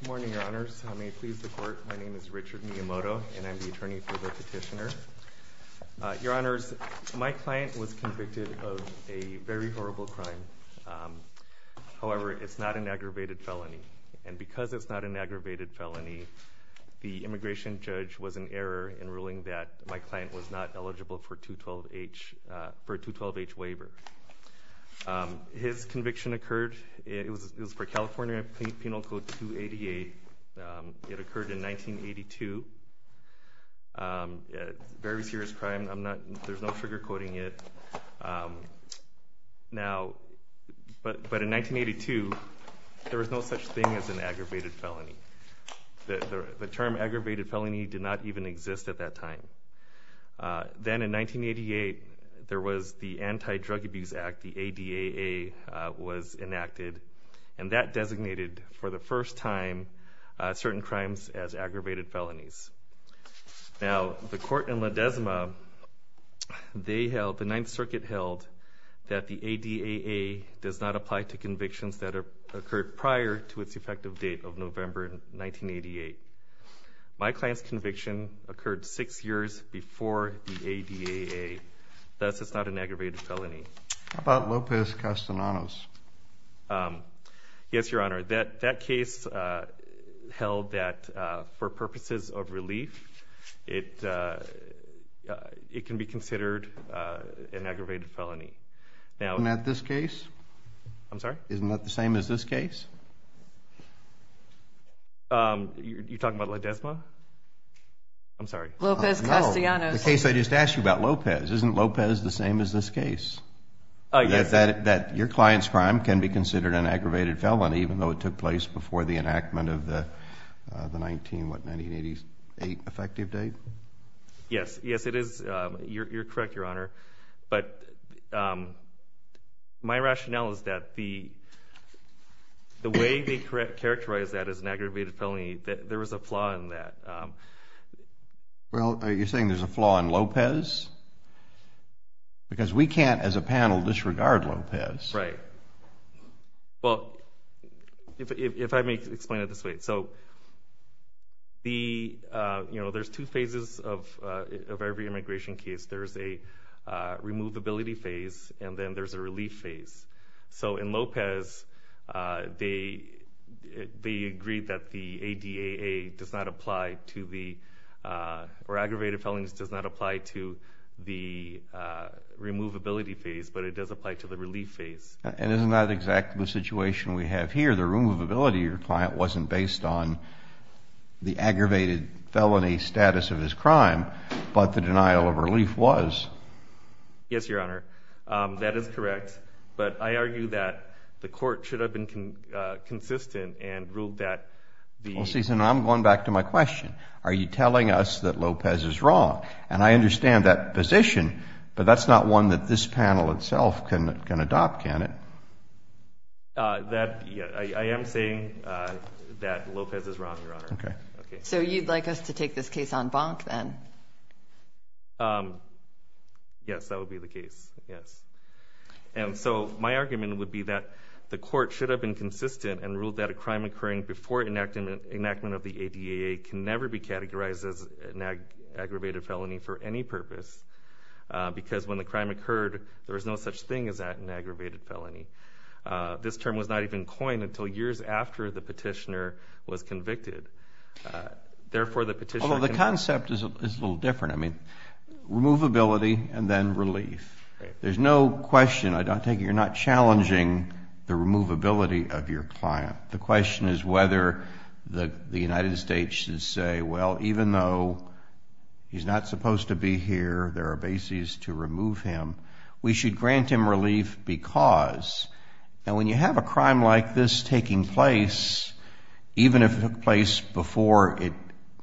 Good morning, your honors. I may please the court. My name is Richard Miyamoto, and I am the attorney for the petitioner. Your honors, my client was convicted of a very horrible crime. However, it's not an aggravated felony. And because it's not an aggravated felony, the immigration judge was in error in ruling that my client was not eligible for a 212H waiver. His conviction occurred, it was for California Penal Code 288. It occurred in 1982. Very serious crime, there's no sugarcoating it. Now, but in 1982, there was no such thing as an aggravated felony. The term aggravated felony did not even exist at that time. Then in 1988, there was the Anti-Drug Abuse Act, the ADAA, was enacted. And that designated, for the first time, certain crimes as aggravated felonies. Now, the court in Ledesma, they held, the Ninth Circuit held, that the ADAA does not apply to convictions that occurred prior to its effective date of November 1988. My client's conviction occurred six years before the ADAA. Thus, it's not an aggravated felony. How about Lopez Castanedos? Yes, your honor. That case held that for purposes of relief, it can be considered an aggravated felony. Isn't that this case? I'm sorry? Isn't that the same as this case? You're talking about Ledesma? I'm sorry. Lopez Castanedos. No, the case I just asked you about, Lopez. Isn't Lopez the same as this case? That your client's crime can be considered an aggravated felony, even though it took place before the enactment of the 1988 effective date? Yes, yes it is. You're correct, your honor. But my rationale is that the way they characterize that as an aggravated felony, there is a flaw in that. Well, are you saying there's a flaw in Lopez? Because we can't, as a panel, disregard Lopez. Right. Well, if I may explain it this way. So, there's two phases of every immigration case. There's a removability phase, and then there's a relief phase. So in Lopez, they agree that the ADAA does not apply to the, or aggravated felonies does not apply to the removability phase, but it does apply to the relief phase. And isn't that exactly the situation we have here? The removability of your client wasn't based on the aggravated felony status of his crime, but the denial of relief was. Yes, your honor. That is correct. But I argue that the court should have been consistent and ruled that the... Well, see, I'm going back to my question. Are you telling us that Lopez is wrong? And I understand that position, but that's not one that this panel itself can adopt, can it? I am saying that Lopez is wrong, your honor. Okay. So you'd like us to take this case on bonk, then? Yes, that would be the case. Yes. And so my argument would be that the court should have been consistent and ruled that a crime occurring before enactment of the ADAA can never be categorized as an aggravated felony for any purpose. Because when the crime occurred, there was no such thing as an aggravated felony. This term was not even coined until years after the petitioner was convicted. Although the concept is a little different. I mean, removability and then relief. There's no question. I take it you're not challenging the removability of your client. The question is whether the United States should say, well, even though he's not supposed to be here, there are bases to remove him, we should grant him relief because. And when you have a crime like this taking place, even if it took place before it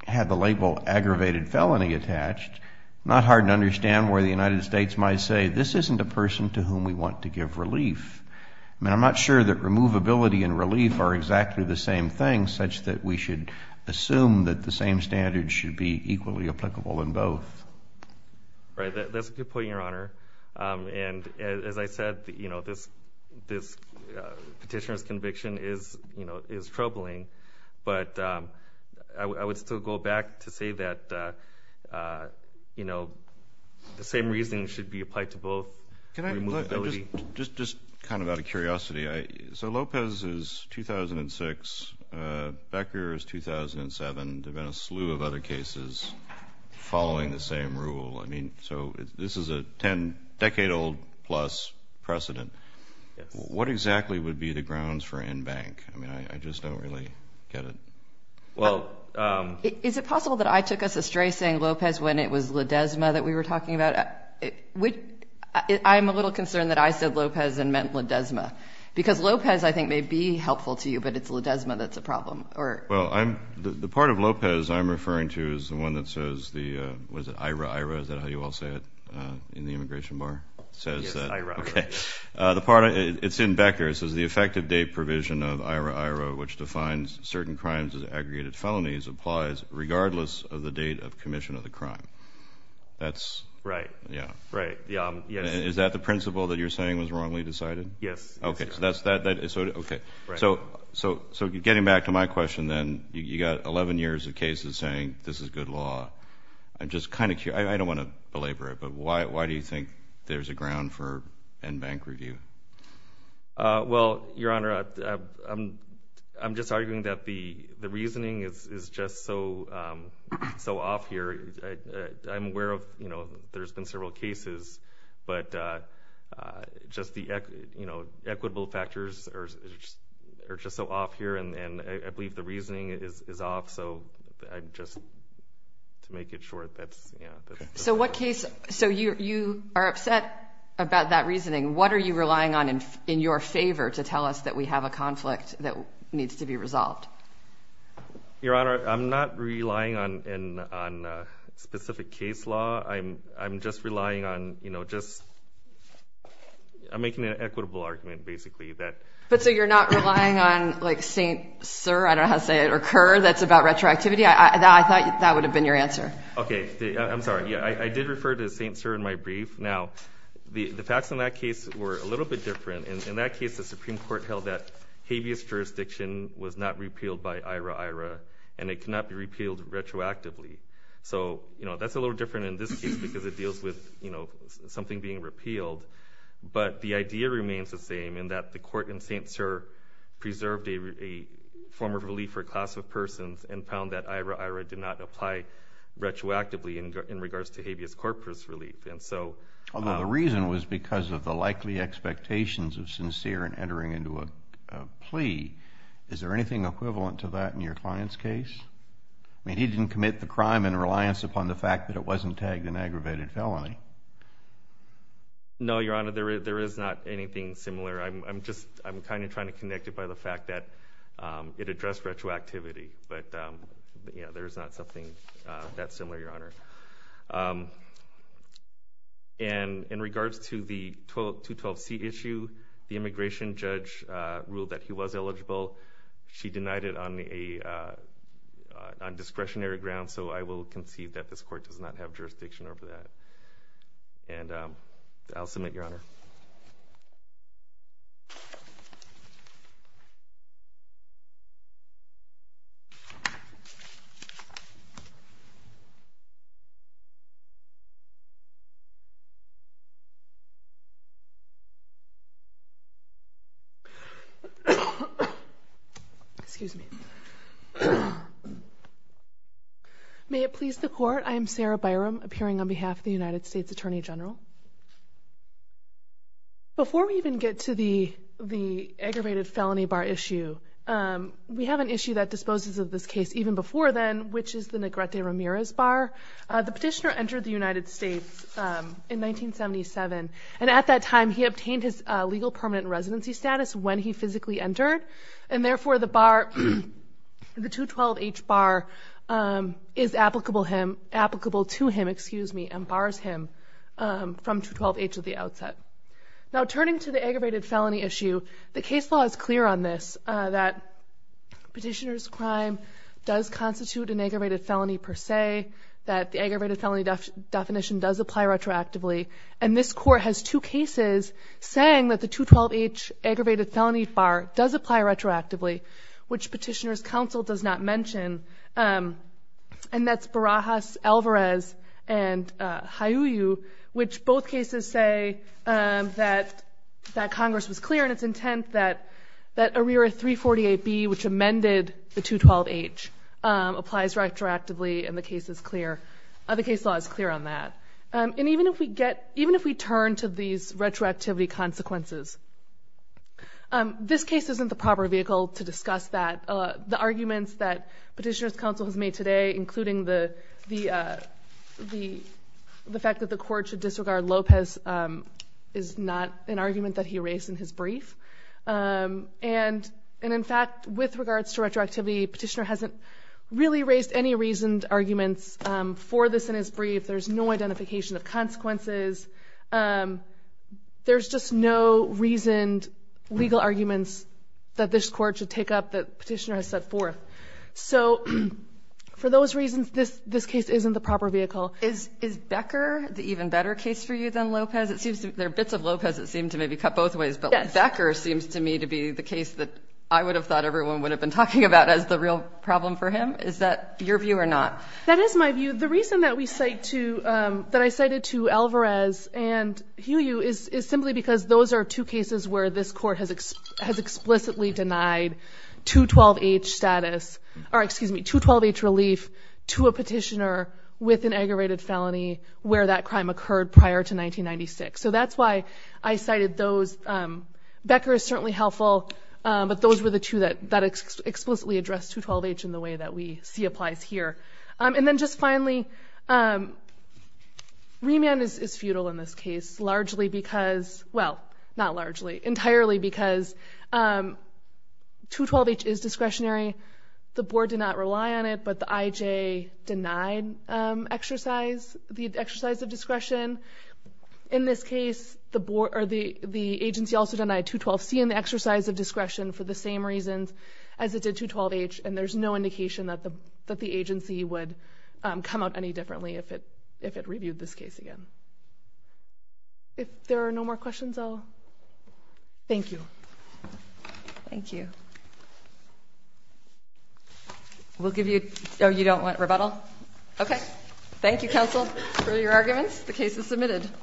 had the label aggravated felony attached, it's not hard to understand why the United States might say, this isn't a person to whom we want to give relief. I mean, I'm not sure that removability and relief are exactly the same thing, such that we should assume that the same standards should be equally applicable in both. Right. That's a good point, your honor. And as I said, this petitioner's conviction is troubling. But I would still go back to say that, you know, the same reasoning should be applied to both. Just kind of out of curiosity, so Lopez is 2006, Becker is 2007. There have been a slew of other cases following the same rule. I mean, so this is a ten decade old plus precedent. What exactly would be the grounds for in-bank? I mean, I just don't really get it. Well, is it possible that I took us astray saying Lopez when it was Ledesma that we were talking about? I'm a little concerned that I said Lopez and meant Ledesma, because Lopez, I think, may be helpful to you, but it's Ledesma that's a problem. Well, the part of Lopez I'm referring to is the one that says the, what is it, IRA, IRA, is that how you all say it in the immigration bar? Yes, IRA. Okay. It's in Becker. It says the effective date provision of IRA, IRA, which defines certain crimes as aggregated felonies, applies regardless of the date of commission of the crime. Right. Yeah. Right, yeah. Is that the principle that you're saying was wrongly decided? Yes. Okay. So getting back to my question then, you've got 11 years of cases saying this is good law. I'm just kind of curious. I don't want to belabor it, but why do you think there's a ground for end bank review? Well, Your Honor, I'm just arguing that the reasoning is just so off here. I'm aware of, you know, there's been several cases, but just the, you know, equitable factors are just so off here, and I believe the reasoning is off. So I'm just, to make it short, that's, yeah. So what case, so you are upset about that reasoning. What are you relying on in your favor to tell us that we have a conflict that needs to be resolved? Your Honor, I'm not relying on specific case law. I'm just relying on, you know, just, I'm making an equitable argument, basically. But so you're not relying on, like, St. Sir, I don't know how to say it, or Kerr, that's about retroactivity? I thought that would have been your answer. Okay. I'm sorry. Yeah, I did refer to St. Sir in my brief. Now, the facts in that case were a little bit different. In that case, the Supreme Court held that habeas jurisdiction was not repealed by IRA-IRA, and it cannot be repealed retroactively. So, you know, that's a little different in this case because it deals with, you know, something being repealed. But the idea remains the same in that the court in St. Sir preserved a form of relief for a class of persons and found that IRA-IRA did not apply retroactively in regards to habeas corpus relief. And so— Although the reason was because of the likely expectations of sincere in entering into a plea. Is there anything equivalent to that in your client's case? I mean, he didn't commit the crime in reliance upon the fact that it wasn't tagged an aggravated felony. No, Your Honor. There is not anything similar. I'm just—I'm kind of trying to connect it by the fact that it addressed retroactivity. But, yeah, there is not something that similar, Your Honor. And in regards to the 212C issue, the immigration judge ruled that he was eligible. She denied it on discretionary grounds, so I will concede that this court does not have jurisdiction over that. And I'll submit, Your Honor. Excuse me. May it please the court, I am Sarah Byram, appearing on behalf of the United States Attorney General. Before we even get to the aggravated felony bar issue, we have an issue that disposes of this case even before then, which is the Negrete Ramirez bar. The petitioner entered the United States in 1977, and at that time he obtained his legal permanent residency status when he physically entered, and therefore the bar—the 212H bar is applicable him—applicable to him, excuse me, and bars him from 212H at the outset. Now, turning to the aggravated felony issue, the case law is clear on this, that petitioner's crime does constitute an aggravated felony per se, that the aggravated felony definition does apply retroactively, and this court has two cases saying that the 212H aggravated felony bar does apply retroactively, which petitioner's counsel does not mention, and that's Barajas, Alvarez, and Hayuyu, which both cases say that Congress was clear in its intent that that arrear 348B, which amended the 212H, applies retroactively, and the case is clear. The case law is clear on that. And even if we get—even if we turn to these retroactivity consequences, this case isn't the proper vehicle to discuss that. The arguments that petitioner's counsel has made today, including the fact that the court should disregard Lopez, is not an argument that he raised in his brief, and in fact, with regards to retroactivity, petitioner hasn't really raised any reasoned arguments for this in his brief. There's no identification of consequences. There's just no reasoned legal arguments that this court should take up that petitioner has set forth. So for those reasons, this case isn't the proper vehicle. Is Becker the even better case for you than Lopez? There are bits of Lopez that seem to maybe cut both ways, but Becker seems to me to be the case that I would have thought everyone would have been talking about as the real problem for him. Is that your view or not? That is my view. The reason that we cite to—that I cited to Alvarez and Huyu is simply because those are two cases where this court has explicitly denied 212H status— or excuse me, 212H relief to a petitioner with an aggravated felony where that crime occurred prior to 1996. So that's why I cited those. Becker is certainly helpful, but those were the two that explicitly addressed 212H in the way that we see applies here. And then just finally, remand is futile in this case, largely because—well, not largely—entirely because 212H is discretionary. The board did not rely on it, but the IJ denied the exercise of discretion. In this case, the agency also denied 212C in the exercise of discretion for the same reasons as it did 212H, and there's no indication that the agency would come out any differently if it reviewed this case again. If there are no more questions, I'll—thank you. Thank you. We'll give you—oh, you don't want rebuttal? Okay. Thank you, counsel, for your arguments. The case is submitted.